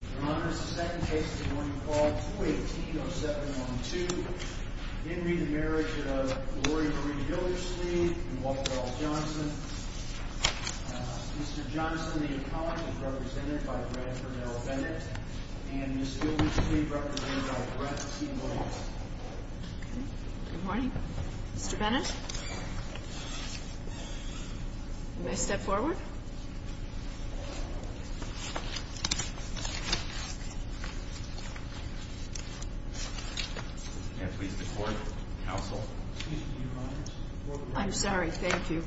Your Honor, this is the second case of the morning call, 218-0712. In re the Marriage of Gloria Maria Gildersleeve and Walter R.L. Johnson. Mr. Johnson, the apologist, is represented by Bradford L. Bennett, and Ms. Gildersleeve, represented by Brett T. Williams. Good morning. Mr. Bennett? May I step forward? I'm sorry. Thank you.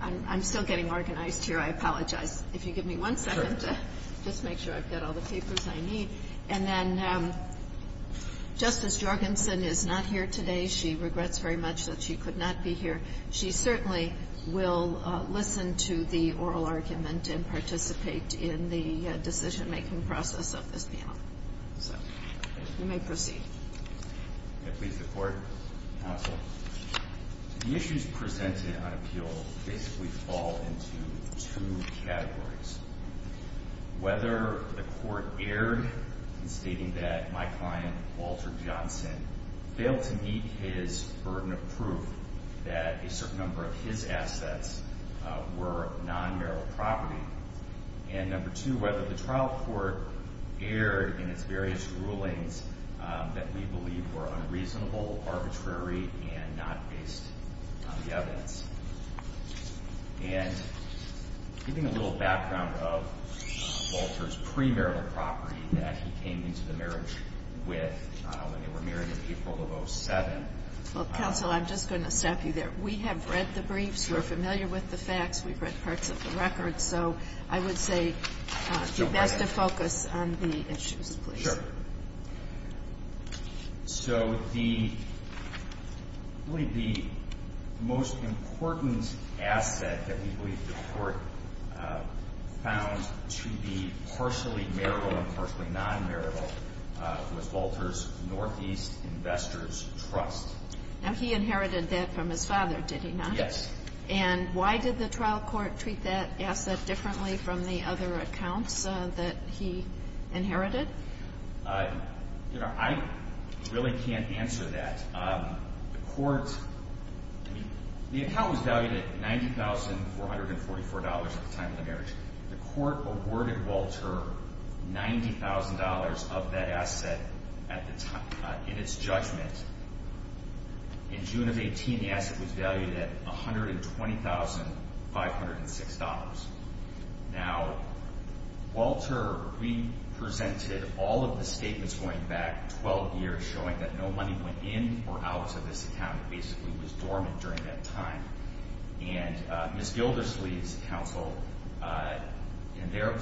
I'm still getting organized here. I apologize. If you give me one second to just make sure I've got all the papers I need. And then Justice Jorgensen is not here today. She regrets very much that she could not be here. She certainly will listen to the oral argument and participate in the decision-making process of this panel. So you may proceed. May it please the Court? Counsel. The issues presented on appeal basically fall into two categories. Whether the Court erred in stating that my client, Walter Johnson, failed to meet his burden of proof that a certain number of his assets were non-marital property. And number two, whether the trial court erred in its various rulings that we believe were unreasonable, arbitrary, and not based on the evidence. And giving a little background of Walter's pre-marital property that he came into the marriage with when they were married in April of 2007. Well, Counsel, I'm just going to stop you there. We have read the briefs. We're familiar with the facts. We've read parts of the records. So I would say it's best to focus on the issues, please. Sure. So the most important asset that we believe the Court found to be partially marital and partially non-marital was Walter's Northeast Investors Trust. Now, he inherited that from his father, did he not? Yes. And why did the trial court treat that asset differently from the other accounts that he inherited? I really can't answer that. The account was valued at $90,444 at the time of the marriage. The Court awarded Walter $90,000 of that asset in its judgment. In June of 18, the asset was valued at $120,506. Now, Walter re-presented all of the statements going back 12 years showing that no money went in or out of this account. It basically was dormant during that time. And Ms. Gilderslee's counsel in their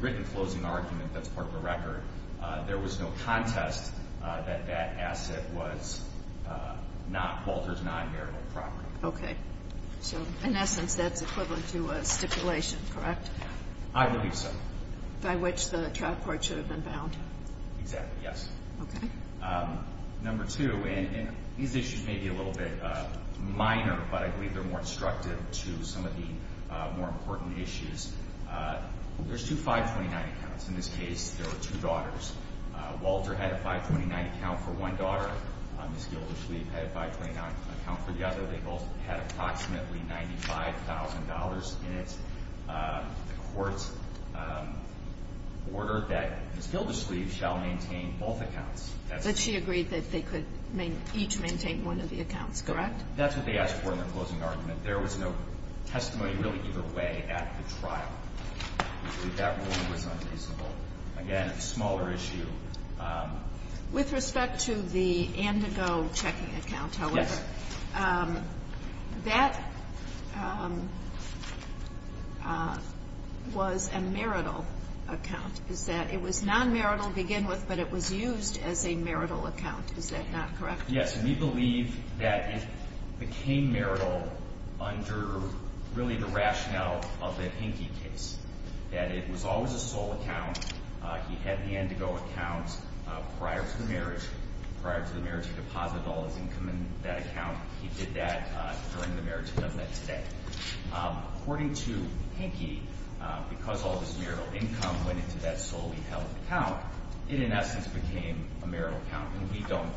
written closing argument, that's part of the record, there was no contest that that asset was not Walter's non-marital property. Okay. So in essence, that's equivalent to a stipulation, correct? I believe so. By which the trial court should have been bound. Exactly, yes. Okay. Number two, and these issues may be a little bit minor, but I believe they're more instructive to some of the more important issues. There's two 529 accounts. In this case, there were two daughters. Walter had a 529 account for one daughter. Ms. Gilderslee had a 529 account for the other. They both had approximately $95,000 in it. The Court ordered that Ms. Gilderslee shall maintain both accounts. But she agreed that they could each maintain one of the accounts, correct? That's what they asked for in their closing argument. There was no testimony really either way at the trial. That ruling was unreasonable. Again, a smaller issue. With respect to the Andigo checking account, however, that was a marital account. It was non-marital to begin with, but it was used as a marital account. Is that not correct? Yes. And we believe that it became marital under really the rationale of the Hinke case. That it was always a sole account. He had the Andigo account prior to the marriage. Prior to the marriage, he deposited all his income in that account. He did that during the marriage. He does that today. According to Hinke, because all his marital income went into that solely held account, it in essence became a marital account. And we don't,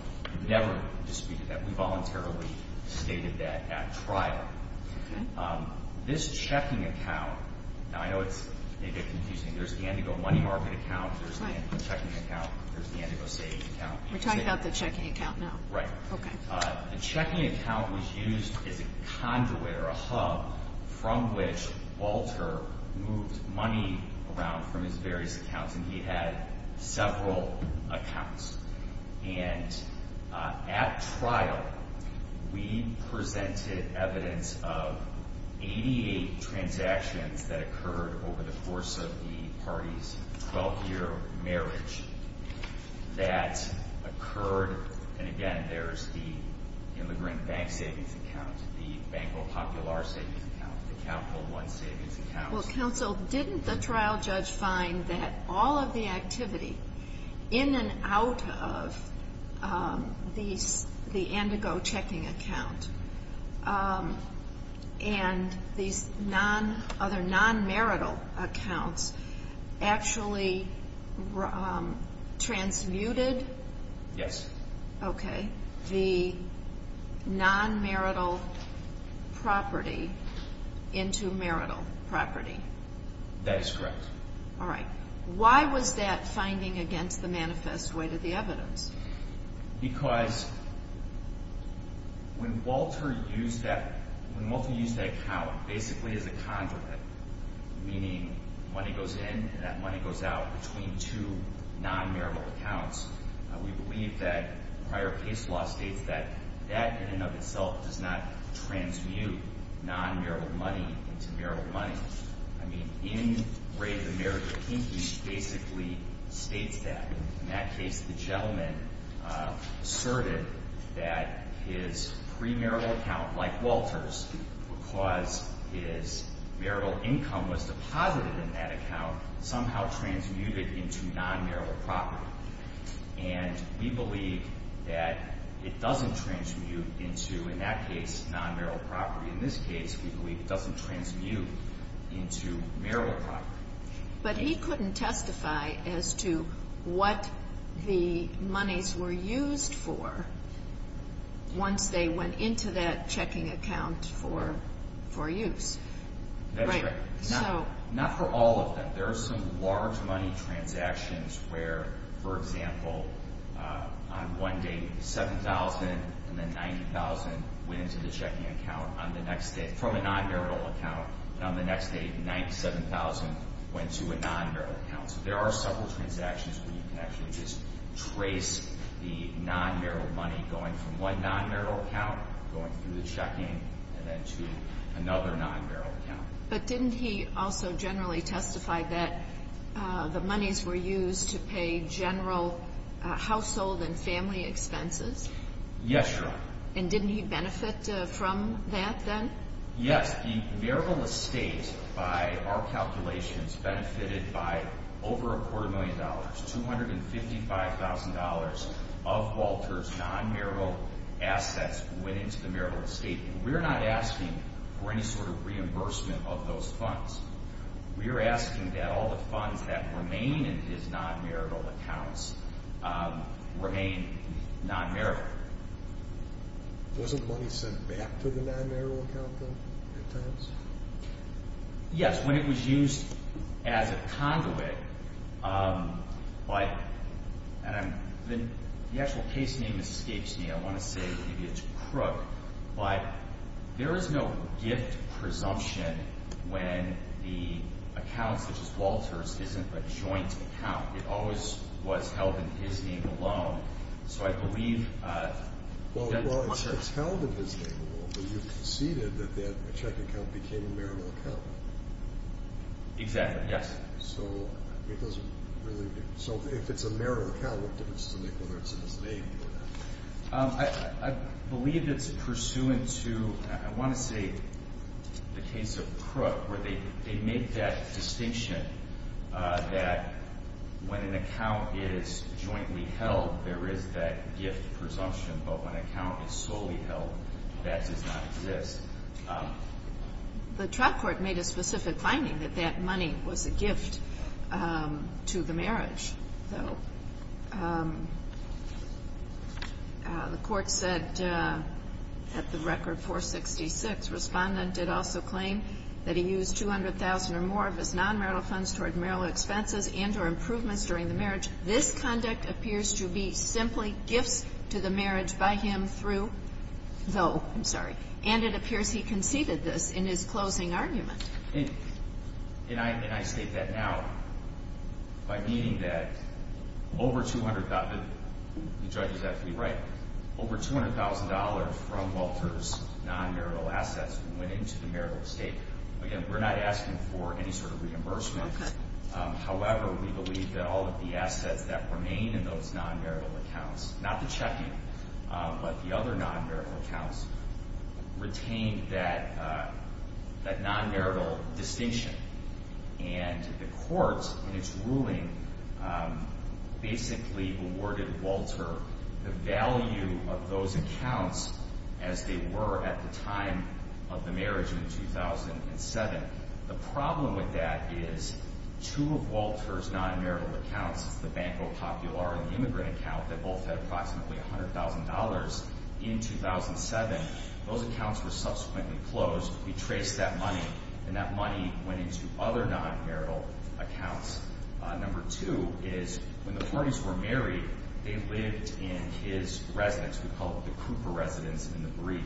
never disputed that. We voluntarily stated that at trial. This checking account, now I know it's a bit confusing. There's the Andigo money market account. There's the Andigo checking account. There's the Andigo savings account. We're talking about the checking account now. Right. The checking account was used as a conduit or a hub from which Walter moved money around from his various accounts. And he had several accounts. And at trial, we presented evidence of 88 transactions that occurred over the course of the party's 12-year marriage that occurred. And again, there's the immigrant bank savings account, the Banco Popular savings account, the Capital One savings account. Well, Counsel, didn't the trial judge find that all of the activity in and out of the Andigo checking account and these other non-marital accounts actually transmuted the non-marital property into marital property? That is correct. All right. Why was that finding against the manifest way to the evidence? Because when Walter used that account basically as a conduit, meaning money goes in and that money goes out between two non-marital accounts, we believe that prior case law states that that in and of itself does not transmute non-marital money into marital money. I mean, in Ray, the marriage of Kinky basically states that. In that case, the gentleman asserted that his pre-marital account, like Walter's, because his marital income was deposited in that account, somehow transmuted into non-marital property. And we believe that it doesn't transmute into, in that case, non-marital property. In this case, we believe it doesn't transmute into marital property. But he couldn't testify as to what the monies were used for once they went into that checking account for use. That is correct. Not for all of them. There are some large money transactions where, for example, on one day 7,000 and then 90,000 went into the checking account on the next day from a non-marital account. And on the next day, 97,000 went to a non-marital account. So there are several transactions where you can actually just trace the non-marital money going from one non-marital account, going through the checking, and then to another non-marital account. But didn't he also generally testify that the monies were used to pay general household and family expenses? Yes, Your Honor. And didn't he benefit from that then? Yes. The marital estate, by our calculations, benefited by over a quarter million dollars. $255,000 of Walter's non-marital assets went into the marital estate. We're not asking for any sort of reimbursement of those funds. We're asking that all the funds that remain in his non-marital accounts remain non-marital. Wasn't money sent back to the non-marital account, though, at times? Yes, when it was used as a conduit, but the actual case name escapes me. I want to say maybe it's Crook, but there is no gift presumption when the account, such as Walter's, isn't a joint account. It always was held in his name alone. So I believe... Well, it's held in his name alone, but you've conceded that that checking account became a marital account. Exactly. Yes. So if it's a marital account, what difference does it make whether it's in his name or not? I believe it's pursuant to, I want to say, the case of Crook, where they make that distinction that when an account is jointly held, there is that gift presumption, but when an account is solely The trial court made a specific finding that that money was a gift to the marriage, though. The court said at the record 466, Respondent did also claim that he used $200,000 or more of his non-marital funds toward marital expenses and or improvements during the marriage. This conduct appears to be simply gifts to the marriage by him through, though. I'm sorry. And it appears he conceded this in his closing argument. And I state that now by meaning that over $200,000, the judge is absolutely right, over $200,000 from Walter's non-marital assets went into the marital estate. Again, we're not asking for any sort of non-marital accounts. Not the checking, but the other non-marital accounts retained that non-marital distinction. And the court, in its ruling, basically awarded Walter the value of those accounts as they were at the time of the marriage in 2007. The problem with that is two of Walter's non-marital accounts, the Banco Popular and the immigrant account, that both had approximately $100,000 in 2007, those accounts were subsequently closed. We traced that money, and that money went into other non-marital accounts. Number two is, when the parties were married, they lived in his residence. We call it the Cooper residence in the brief.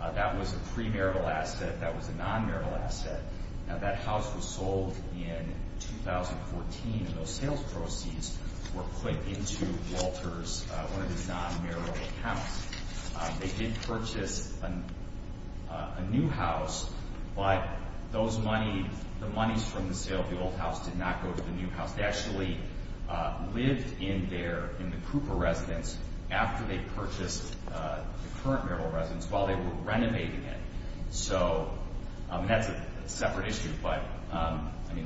That was a pre-marital asset. That was a non-marital asset. Now that house was sold in 2014, and those sales proceeds were put into Walter's, one of his non-marital accounts. They did purchase a new house, but those money, the monies from the sale of the old house did not go to the new house. They actually lived in their, in the Cooper residence after they purchased the current marital residence while they were renovating it. So, and that's a separate issue, but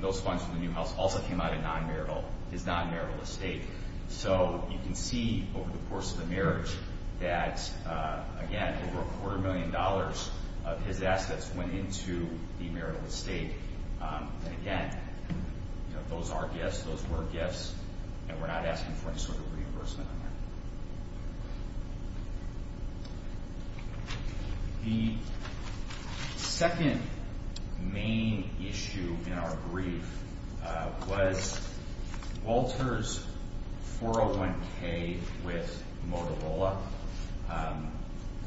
those funds from the new house also came out of his non-marital estate. So you can see over the course of the marriage that, again, over a quarter million dollars of his assets went into the marital estate. And again, those are gifts, those were gifts, and we're not asking for any sort of reimbursement on that. The second main issue in our brief was Walter's 401K with Motorola. The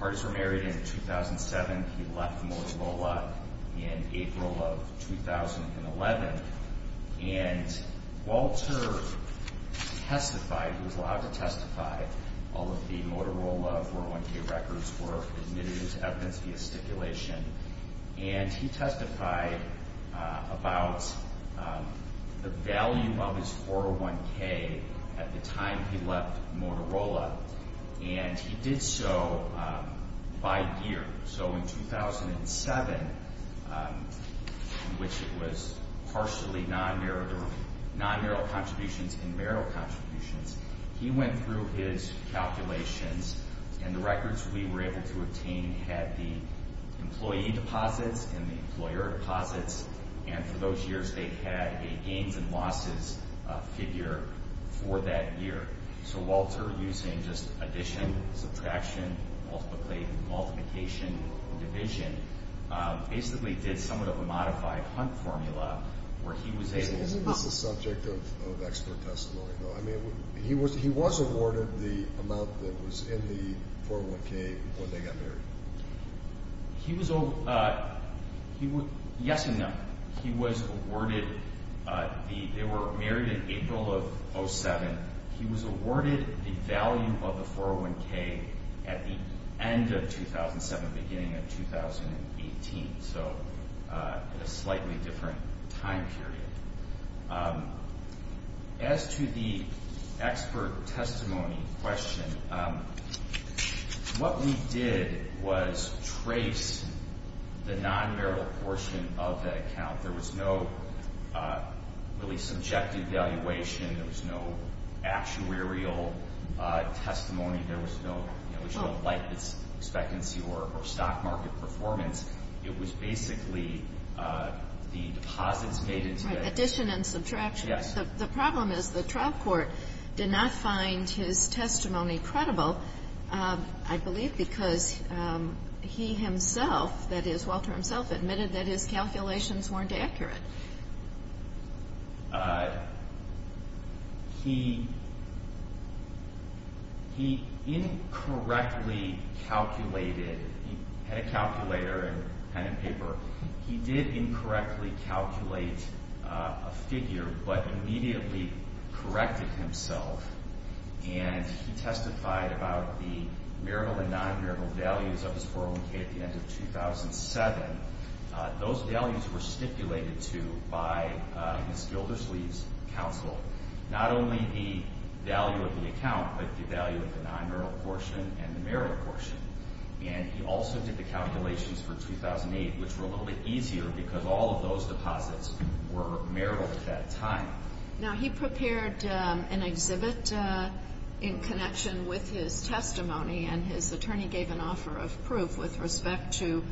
parties were married in 2007. He left Motorola in April of 2011, and Walter testified, he was allowed to testify. All of the Motorola 401K records were admitted as evidence via stipulation, and he testified about the value of his 401K at the time he left Motorola, and he did so by year. So in 2007, in which it was partially non-marital, non-marital contributions and marital contributions, he went through his calculations, and the records we were able to obtain had the employee deposits and the employer deposits, and for those years they had a contribution losses figure for that year. So Walter, using just addition, subtraction, multiplication, and division, basically did somewhat of a modified Hunt formula where he was able to... Isn't this a subject of expert testimony, though? I mean, he was awarded the amount that was in the 401K when they got married. Yes and no. They were married in April of 2007. He was awarded the value of the 401K at the end of 2007, beginning of 2018, so at a slightly different time period. As to the addition and subtraction, the problem is the trial court did not find his testimony credible, I believe, because He did not find his testimony credible. He himself, that is Walter himself, admitted that his calculations weren't accurate. He incorrectly calculated, he had a calculator and pen and paper, he did incorrectly calculate a figure but immediately corrected himself and he testified about the marital and non-marital values of his 401K at the end of 2007. Those values were stipulated to by Ms. Gilderslee's counsel, not only the value of the account but the value of the non-marital portion and the marital portion. He also did the calculations for 2008, which were a little bit easier because all of those deposits were marital at that time. Now he prepared an exhibit in connection with his testimony and his attorney gave an offer of proof with respect to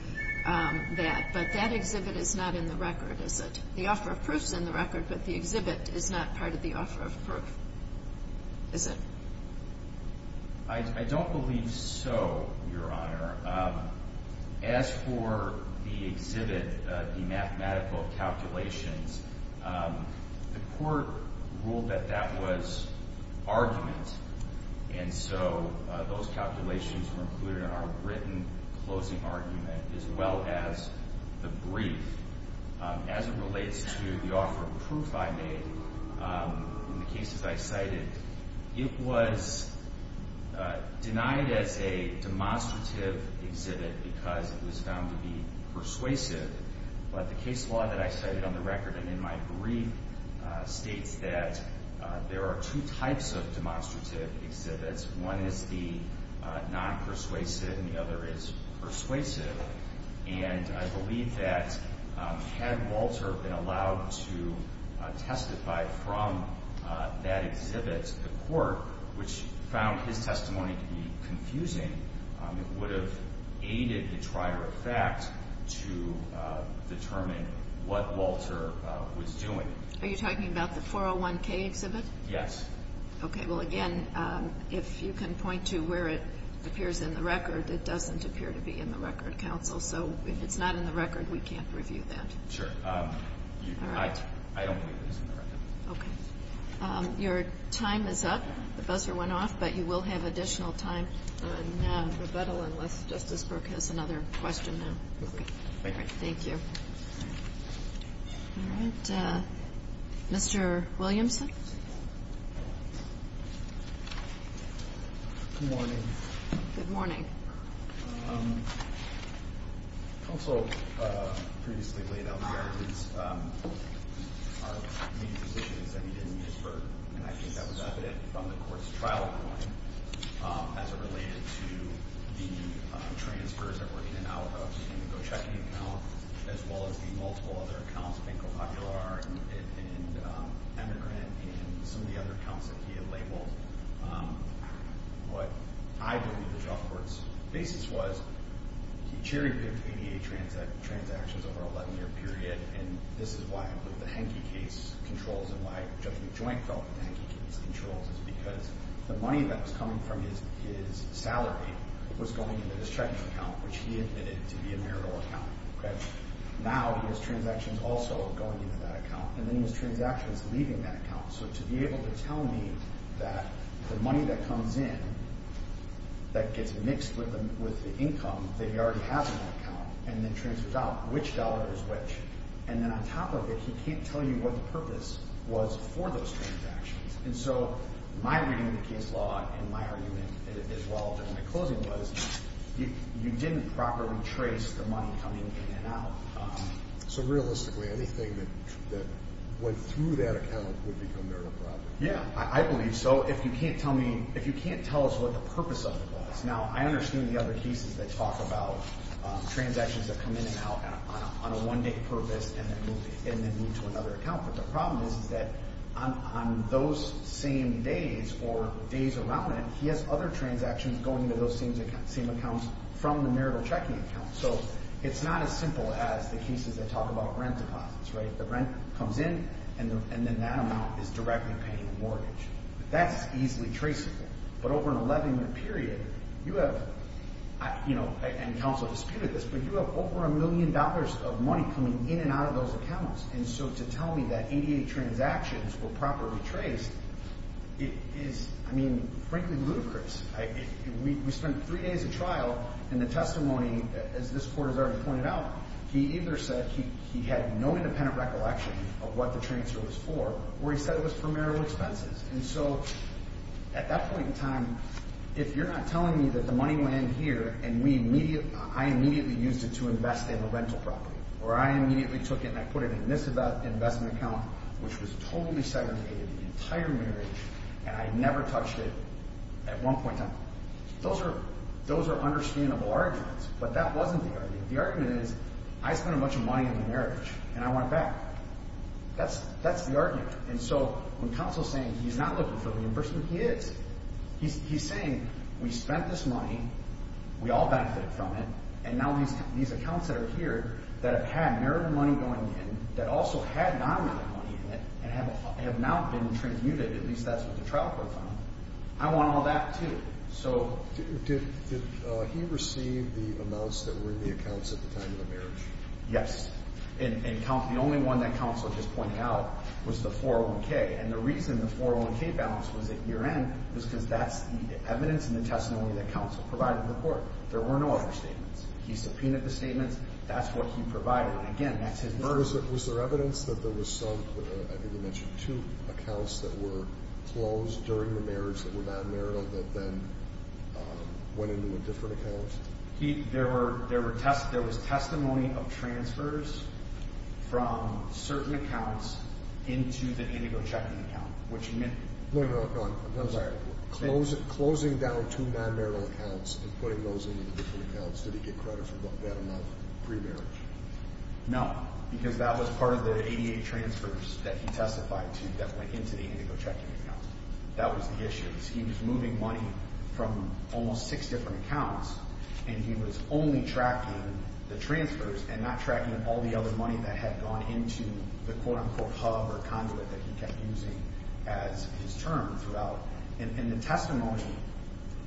that, but that exhibit is not in the record, is it? The offer of proof is in the record, but the exhibit is not part of the offer of proof, is it? I don't believe so, Your Honor. As for the exhibit, the mathematical calculations, the court ruled that that was argument and so those calculations were included in our written closing argument as well as the brief. As it relates to the offer of proof I made, in the cases I cited, it was denied as a demonstrative exhibit because it was found to be persuasive, but the case law that I cited on the record and in my brief states that there are two types of demonstrative exhibits. One is the non-persuasive and the other is persuasive, and I believe that had Walter been allowed to testify from that exhibit to the court, which found his testimony to be confusing, it would have aided the trier of fact to determine what Walter was doing. Are you talking about the 401K exhibit? Yes. Okay, well again, if you can point to where it appears in the record, it doesn't appear to be in the record, counsel, so if it's not in the record, we can't review that. Sure. I don't believe it's in the record. Your time is up. The buzzer went off, but you will have additional time in rebuttal unless Justice Brook has another question. Thank you. Mr. Williamson? Good morning. Good morning. Counsel, previously laid out the arguments, our main positions that we didn't use for, and I think that was evident from the court's trial ruling, as it related to the transfers that were in and out of the Indigo checking account, as well as the multiple other accounts, Banco Popular and Emigrant, and some of the other accounts that he had labeled. What I believe the job court's basis was, he cherry-picked ADA transactions over an 11-year period, and this is why I put the Henke case controls, and why I put the joint felt in the Henke case controls, is because the money that was coming from his salary was going into his checking account, which he admitted to be a marital account. Now his transaction's also going into that account, and then his transaction's leaving that account. So to be able to tell me that the money that comes in, that gets mixed with the income that he already has in that account, and then transfers out, which dollar is which, and then on top of it, he can't tell you what the purpose was for those transactions. And so my reading of the case law, and my argument as well in the closing was, you didn't properly trace the money coming in and out. So realistically, anything that went through that account would become marital property? Yeah, I believe so. If you can't tell me, if you can't tell us what the purpose of it was. Now, I understand the other cases that talk about transactions that come in and out on a one-day purpose, and then move to another account. But the problem is that on those same days, or days around it, he has other transactions going to those same accounts from the marital checking account. So it's not as simple as the cases that talk about rent deposits, right? The rent comes in, and then that amount is directly paying the mortgage. That's easily traceable. But over an 11-month period, you have, and counsel disputed this, but you have over a million dollars of money coming in and out of those accounts. And so to tell me that 88 transactions were properly traced is, I mean, frankly ludicrous. We spent three days of trial, and the testimony, as this Court has already pointed out, he either said he had no independent recollection of what the transfer was for, or he said it was for marital expenses. And so at that point in time, if you're not telling me that the money went in here, and I immediately used it to invest in a rental property, or I immediately took it and I put it in this investment account, which was totally segregated, the entire marriage, and I never touched it at one point in time. Those are understandable arguments, but that wasn't the argument. The argument is, I spent a bunch of money in the marriage, and I want it back. That's the argument. And so when counsel's saying he's not looking for reimbursement, he is. He's saying, we spent this money, we all benefited from it, and now these accounts that are here, that have had marital money going in, that also had non-marital money in it, and have now been transmuted, at least that's what the trial court found, I want all that, too. So... Did he receive the amounts that were in the accounts at the time of the marriage? Yes. And the only one that counsel just pointed out was the 401k. And the reason the 401k balance was at year end, was because that's the evidence and the testimony that counsel provided to the court. There were no other statements. He subpoenaed the statements, that's what he provided. And again, that's his... Was there evidence that there was some, I think you mentioned two accounts that were closed during the marriage that were non-marital that then went into a different account? There were testimony of transfers from certain accounts into the indigo checking account, which meant... No, no, no, I'm sorry. Closing down two non-marital accounts and putting those into different accounts, did he get credit for that enough pre-marriage? No, because that was part of the ADA transfers that he testified to that went into the indigo checking account. That was the issue. He was moving money from almost six different accounts, and he was only tracking the transfers and not tracking all the other money that had gone into the quote-unquote hub or conduit that he kept using as his term throughout. And the testimony,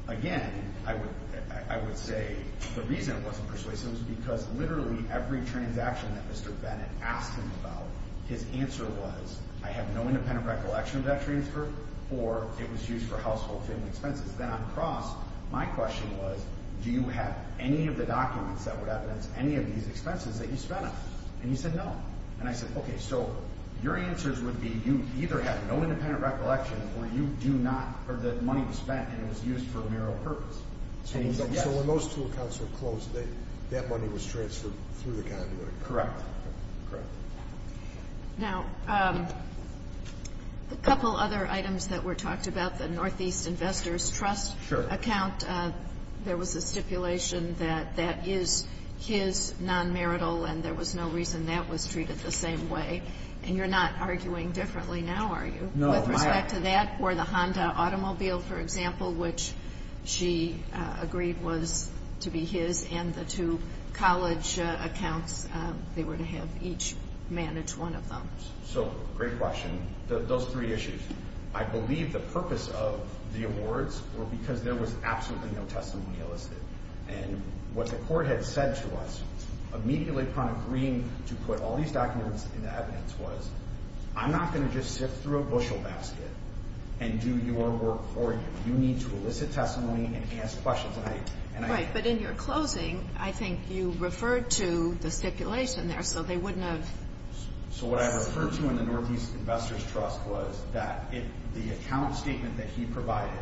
again, I would say the reason it wasn't persuasive is because literally every transaction that Mr. Bennett asked him about, his answer was, I have no independent recollection of that transfer, or it was used for household expenses. Then on the cross, my question was, do you have any of the documents that would evidence any of these expenses that you spent on? And he said no. And I said, okay, so your answers would be, you either have no independent recollection or you do not, or the money was spent and it was used for a mere purpose. So when those two accounts were closed, that money was transferred through the conduit? Correct. Now, a couple other items that were talked about, the Northeast Investors Trust account, there was a stipulation that that is his non-marital, and there was no reason that was treated the same way. And you're not arguing differently now, are you? No. With respect to that, or the Honda automobile, for example, which she agreed was to be his, and the two college accounts, they were to have each manage one of them. So, great question. Those three issues. I believe the purpose of the awards were because there was absolutely no testimony listed. And what the court had said to us, immediately upon agreeing to put all these documents in the evidence, was I'm not going to just sift through a bushel basket and do your work for you. You need to elicit testimony and ask questions. Right, but in your closing, I think you referred to the stipulation there, so they wouldn't have... So what I referred to in the Northeast Investors Trust was that the account statement that he provided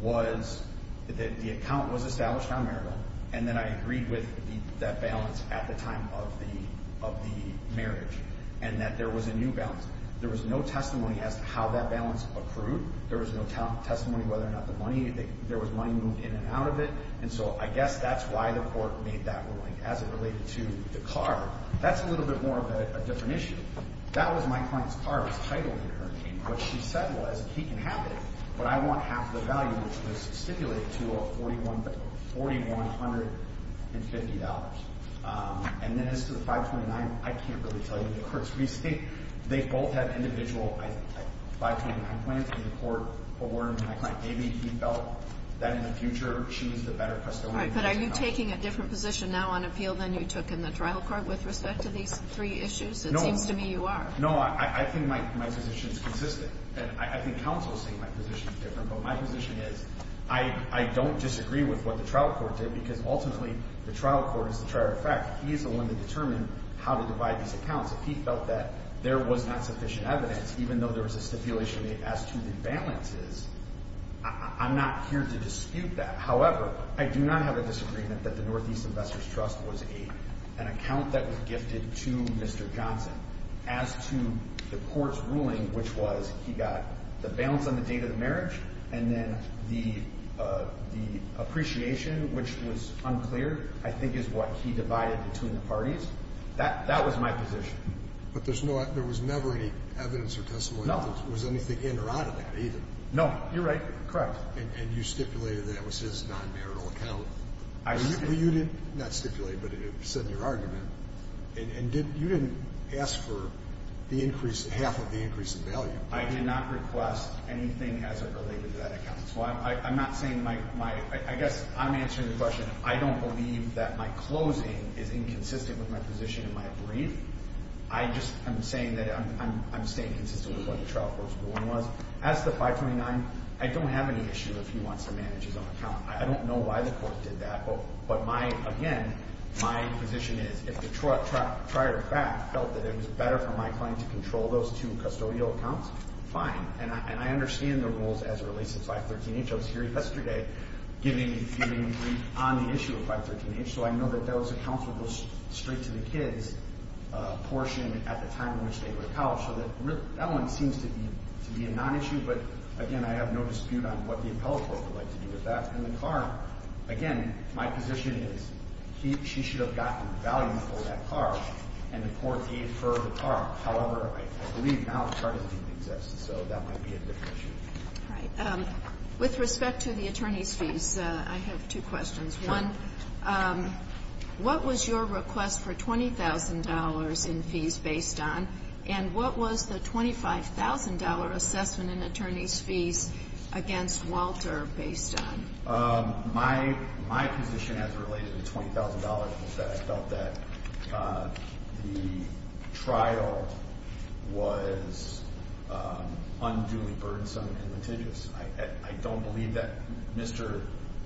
was that the account was established on marital, and then I agreed with that balance at the time of the marriage, and that there was a new balance. There was no testimony as to how that balance accrued. There was no testimony whether or not the money, there was money moved in and out of it. And so I guess that's why the court made that ruling as it related to the car. That's a little bit more of a different issue. That was my decision. I didn't have it, but I want half the value, which was stipulated to $4,150. And then as to the 529, I can't really tell you. The courts recently, they both had individual 529 plans and the court awarded my client Davie. He felt that in the future, she was the better custodian. But are you taking a different position now on appeal than you took in the trial court with respect to these three issues? It seems to me you are. No, I think my position is consistent. And I think counsel is saying my position is different, but my position is, I don't disagree with what the trial court did, because ultimately, the trial court is the trier of fact. He is the one that determined how to divide these accounts. If he felt that there was not sufficient evidence, even though there was a stipulation as to the balances, I'm not here to dispute that. However, I do not have a disagreement that the Northeast Investors Trust was an account that was gifted to Mr. Johnson. As to the court's ruling, which was he got the balance on the date of the marriage, and then the appreciation, which was unclear, I think is what he divided between the parties. That was my position. But there was never any evidence or testimony that there was anything in or out of that, either? No. You're right. Correct. And you stipulated that it was his non-marital account. You did not stipulate, but it was said in your argument. And you didn't ask for the increase, half of the increase in value. I did not request anything as it related to that account. So I'm not saying my, I guess I'm answering the question, I don't believe that my closing is inconsistent with my position in my brief. I just, I'm saying that I'm staying consistent with what the trial court's ruling was. As to 529, I don't have any issue if he wants to manage his own account. I don't know why the court did that, but my, again, my position is, if the trial tried back, felt that it was better for my client to control those two custodial accounts, fine. And I understand the rules as it relates to 513H. I was here yesterday giving a brief on the issue of 513H, so I know that that was a counsel goes straight to the kids portion at the time in which they were appelled. So that one seems to be a non-issue, but, again, I have no dispute on what the appellate court would like to do with that. And the car, again, my position is, she should have gotten the value for that car, and the court gave her the car. However, I believe now the car doesn't even exist, so that might be a different issue. I have two questions. One, what was your request for $20,000 in fees based on, and what was the $25,000 assessment in attorney's fees against Walter based on? My position as related to $20,000 was that I felt that the trial was unduly burdensome and litigious. I don't believe that Mr.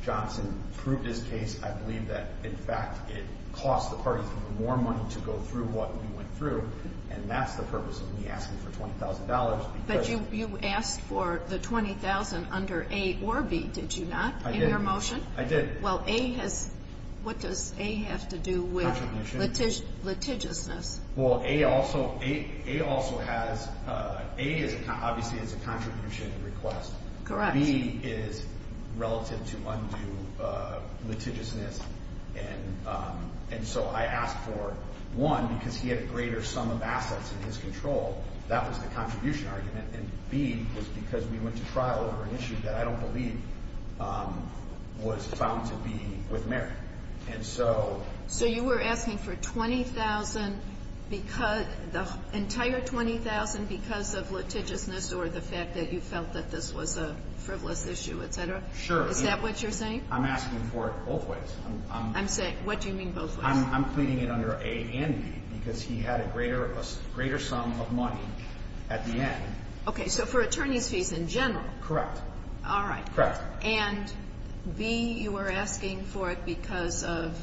Johnson proved his case. I believe that, in fact, it cost the parties more money to go through what we went through, and that's the purpose of me asking for $20,000. But you asked for the $20,000 under A or B, did you not, in your motion? I did. What does A have to do with litigiousness? A obviously is a contribution request. B is relative to undue litigiousness, and so I asked for one, because he had a greater sum of assets in his control. That was the contribution argument. And B was because we went to trial over an issue that I don't believe was found to be with merit. And so you were asking for $20,000, the entire $20,000 because of litigiousness or the fact that you felt that this was a frivolous issue, et cetera? Sure. Is that what you're saying? I'm asking for it both ways. I'm saying, what do you mean both ways? I'm cleaning it under A and B, because he had a greater sum of money at the end. Okay, so for attorney's fees in general? Correct. All right. Correct. And B, you were asking for it because of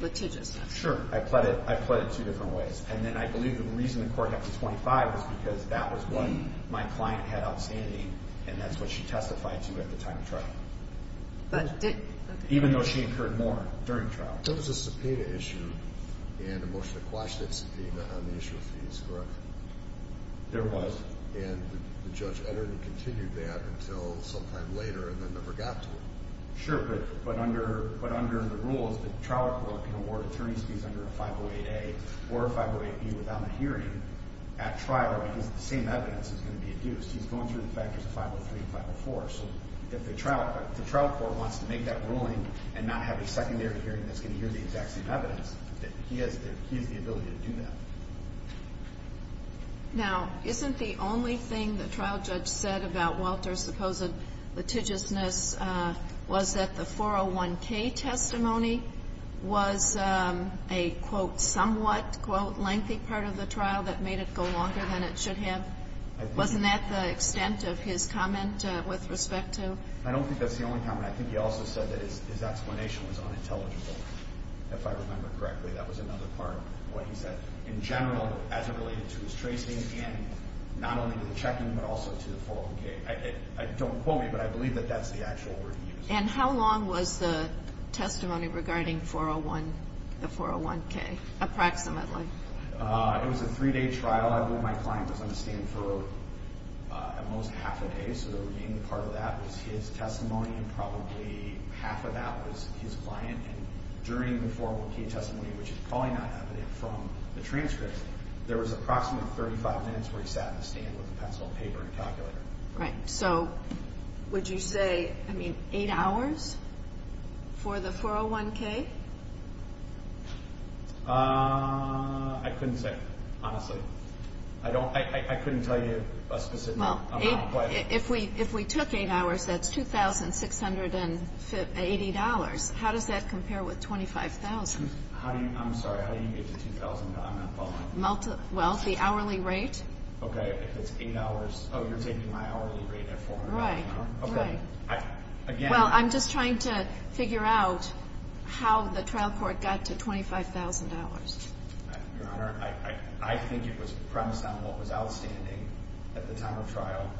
litigiousness. Sure. I pled it two different ways. And then I believe the reason the court had $25,000 was because that was what my client had outstanding, and that's what she testified to at the time of trial. Even though she incurred more during trial. There was a subpoena issue and a motion to quash that subpoena on the issue of fees, correct? There was. And the judge entered and continued that until sometime later and then never got to it. Sure, but under the rules, the trial court can award attorney's fees under a 508A or a 508B without a hearing at trial because the same evidence is going to be hearing that's going to hear the exact same evidence. He has the ability to do that. Now, isn't the only thing the trial judge said about Walter's supposed litigiousness was that the 401K testimony was a, quote, somewhat, quote, lengthy part of the trial that made it go longer than it should have? Wasn't that the extent of his comment with respect to? I don't think that's the only comment. I think he also said that his explanation was unintelligible, if I remember correctly. That was another part of what he said. In general, as it related to his tracing and not only to the checking, but also to the 401K. Don't quote me, but I believe that that's the actual word he used. And how long was the testimony regarding 401, the 401K, approximately? It was a three-day trial. I believe my client was on a stand for at most half a day, so the remaining part of that was his testimony and probably half of that was his client. And during the 401K testimony, which is probably not evident from the transcript, there was approximately 35 minutes where he sat in a stand with a pencil and paper and calculator. Right. So, would you say, I mean, eight hours for the 401K? I couldn't say, honestly. I couldn't tell you a specific amount. Well, if we took eight hours, that's $2,680. How does that compare with $25,000? I'm sorry, how do you get to $2,000, but I'm not following. Well, the hourly rate. Okay, if it's eight hours. Oh, you're taking my hourly rate at $400 an hour. Right. Well, I'm just trying to figure out how the trial court got to $25,000. Your Honor, I think it was premised on what was outstanding at the time of trial.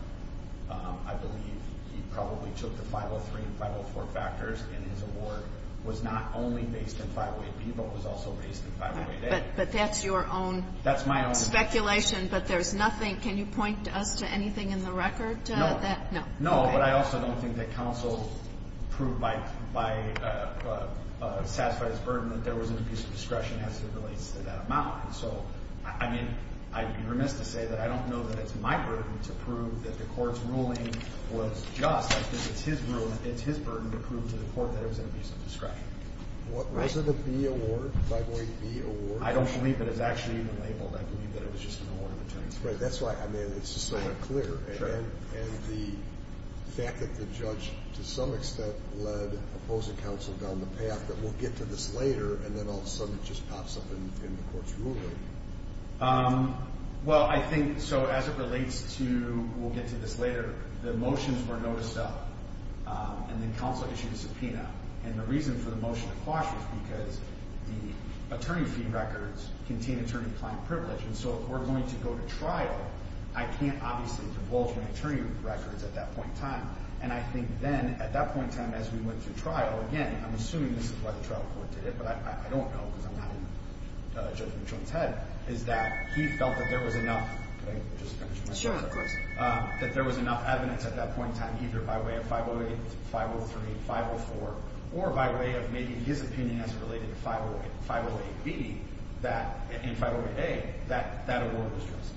I believe he probably took the 503 and 504 factors, and his award was not only based in 508B, but was also based in 508A. But that's your own speculation. That's my own speculation. But there's nothing. Can you point us to anything in the record? No. No, but I also don't think that counsel proved by satisfied his burden that there was an abuse of discretion as it relates to that amount. So, I mean, I'd be remiss to say that I don't know that it's my burden to prove that the court's ruling was just. I think it's his burden to prove to the court that it was an abuse of discretion. Was it a B burden to prove? Right. That's why, I mean, it's just so unclear. And the fact that the judge, to some extent, led opposing counsel down the path that we'll get to this later and then all of a sudden it just pops up in the court's ruling. Well, I think, so as it relates to, we'll get to this later, the motions were noticed up and then counsel issued a subpoena. And the reason for the motion to quash was because the attorney fee records contain attorney-client privilege. And so if we're going to go to trial, I can't obviously divulge my attorney records at that point in time. And I think then at that point in time as we went to trial, again, I'm assuming this is why the trial court did it, but I don't know because I'm not judging Trump's head, is that he felt that there was enough evidence at that point in time either by way of 508, 503, 504 or by way of maybe his opinion as it related to 508B that, in 508A, that award was trusted.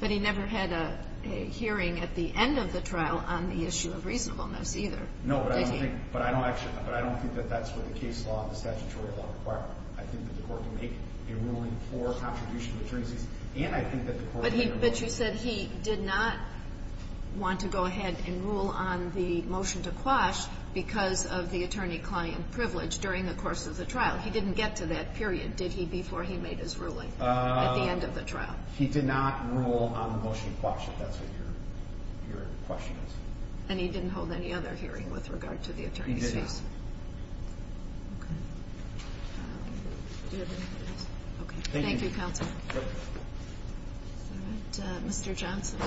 But he never had a hearing at the end of the trial on the issue of reasonableness either, did he? No, but I don't think, but I don't actually, but I don't think that that's what the case law and the statutory law require. I think that the Court can make a ruling for contribution to attorneys, and I think that the Court can make a ruling. But you said he did not want to go ahead and rule on the motion to quash because of the attorney-client privilege during the course of the trial. He didn't get to that period, did he, before he made his ruling at the end of the trial? He did not rule on the motion to quash, if that's what your question is. And he didn't hold any other hearing with regard to the attorney's case? He didn't. Okay. Do you have anything else? Okay. Thank you, Counsel. All right. Mr. Johnson.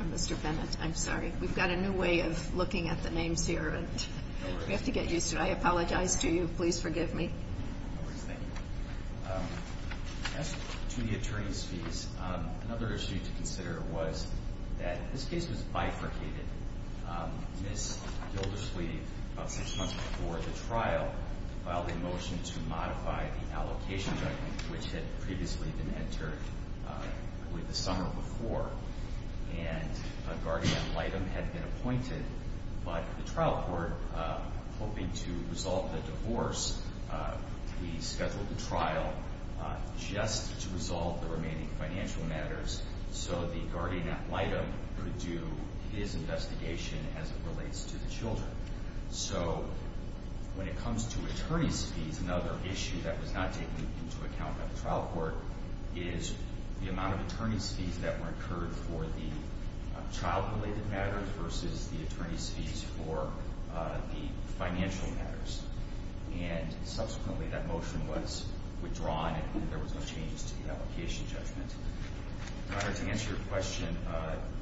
Or Mr. Bennett. I'm sorry. We've got a new way of looking at the names here, and we have to get used to it. I apologize to you. Please forgive me. Thank you. As to the attorney's fees, another issue to consider was that this case was bifurcated, and Ms. Gilderslee, about six months before the trial, filed a motion to modify the allocation judgment, which had previously been entered I believe the summer before. And a guardian ad litem had been appointed, but the trial court, hoping to resolve the divorce, rescheduled the trial just to resolve the remaining financial matters so the guardian ad litem could do his investigation as it relates to the children. So when it comes to attorney's fees, another issue that was not taken into account by the trial court is the amount of attorney's fees that were incurred for the child-related matters versus the attorney's fees for the financial matters. And to answer your question,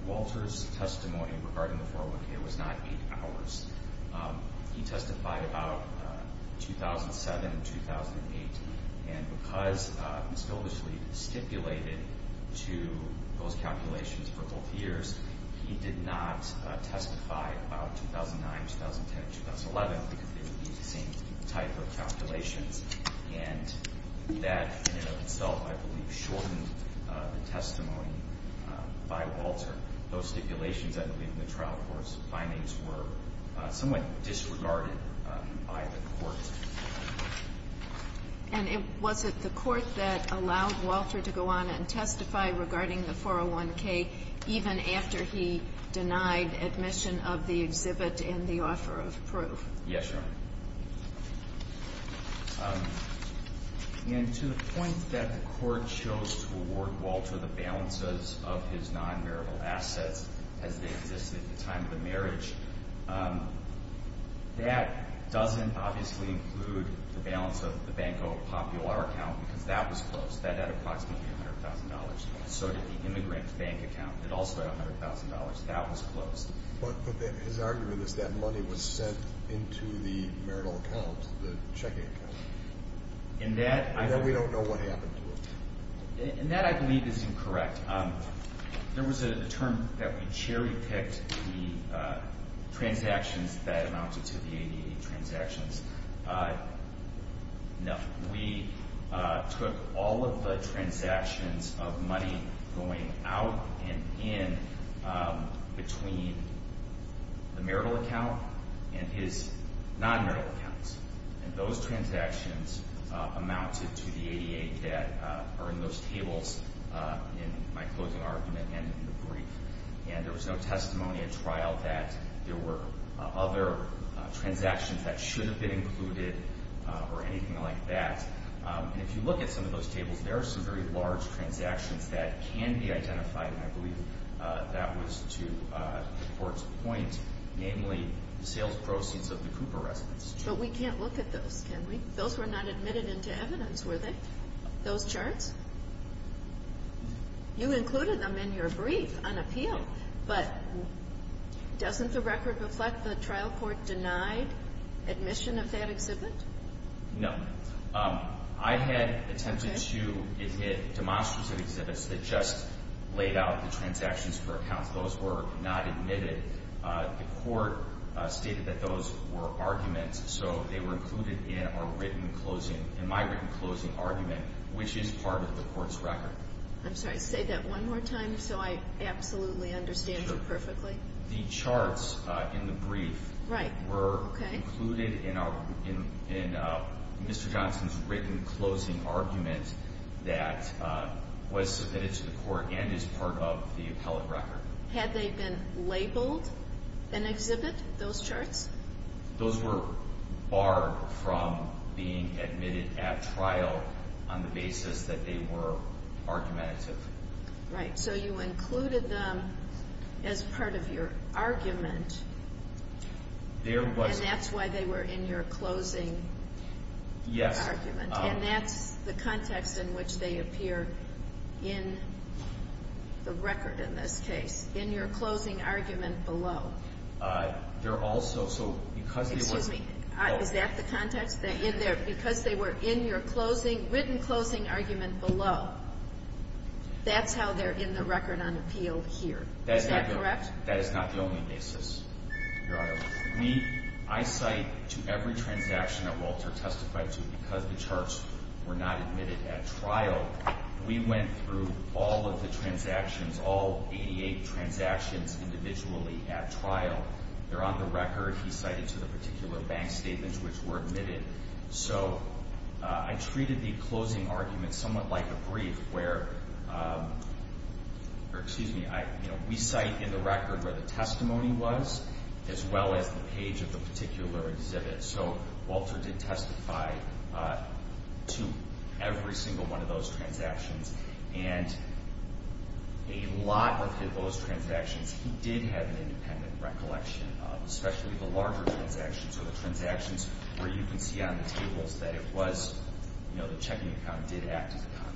Walter's testimony regarding the 401k was not eight hours. He testified about 2007 and 2008, and because Ms. Gilderslee stipulated to those calculations for both years, he did not testify about 2009, 2010, 2011, because they would be the same type of calculations. And that in and of itself, I believe, shortened the testimony by Walter. Those stipulations, I believe, in the trial court's findings were somewhat disregarded by the court. And was it the court that allowed Walter to go on and testify regarding the 401k even after he denied admission of the exhibit and the offer of proof? Yes, Your Honor. And to the point that the court chose to award Walter the balances of his non-marital assets as they existed at the time of the marriage, that doesn't obviously include the balance of the Banco Popular account, because that was closed. That had approximately $100,000. So did the court choose to award him $100,000 because that money was sent into the marital account, the checking account? And that we don't know what happened to it. And that, I believe, is incorrect. There was a term that we cherry-picked the transactions that amounted to the ADA transactions. No. We took all of the transactions of money going out and in between the marital account and his non-marital accounts. And those transactions amounted to the ADA that are in those tables in my closing argument and in the brief. And there was no testimony at trial that there were other transactions that should have been included or anything like that. And if you look at some of those tables, there are some very large transactions that can be identified. And I believe that was to the court's point, namely the sales proceeds of the Cooper residence. But we can't look at those, can we? Those were not admitted into evidence, were they? Those charts? You included them in your brief on appeal. But doesn't the record reflect the trial court denied admission of that exhibit? No. I had attempted to admit demonstrative exhibits that just laid out the transactions for accounts. Those were not admitted. The court stated that those were arguments. So they were included in our written closing, in my written closing argument, which is part of the court's record. I'm sorry, say that one more time so I absolutely understand you perfectly. The charts in the brief were included in Mr. Johnson's written closing argument that was submitted to the court and is part of the appellate record. Had they been labeled an exhibit, those charts? Those were barred from being admitted at trial on the basis that they were argumentative. Right. So you included them as part of your argument. And that's why they were in your closing argument. Yes. And that's the context in which they appear in the record in this case, in your closing argument below. Excuse me. Is that the context? Because they were in your written closing argument below, that's how they're in the record on appeal here. Is that correct? That is not the only basis, Your Honor. I cite to every transaction that Walter testified to because the charts were not admitted at trial, we went through all of the transactions, all 88 transactions individually at trial. They're on the record. He cited to the particular bank statements which were admitted. So I treated the closing argument somewhat like a brief where we cite in the record where the testimony was as well as the page of the particular exhibit. So Walter did testify to every single one of those transactions and a lot of those transactions he did have an independent recollection of, especially the larger transactions or the transactions where you can see on the tables that it was, you know, the checking account did act as a conduit.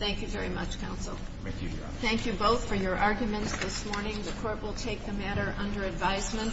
Thank you very much, Counsel. Thank you, Your Honor. Thank you both for your arguments this morning. The Court will take the matter under advisement.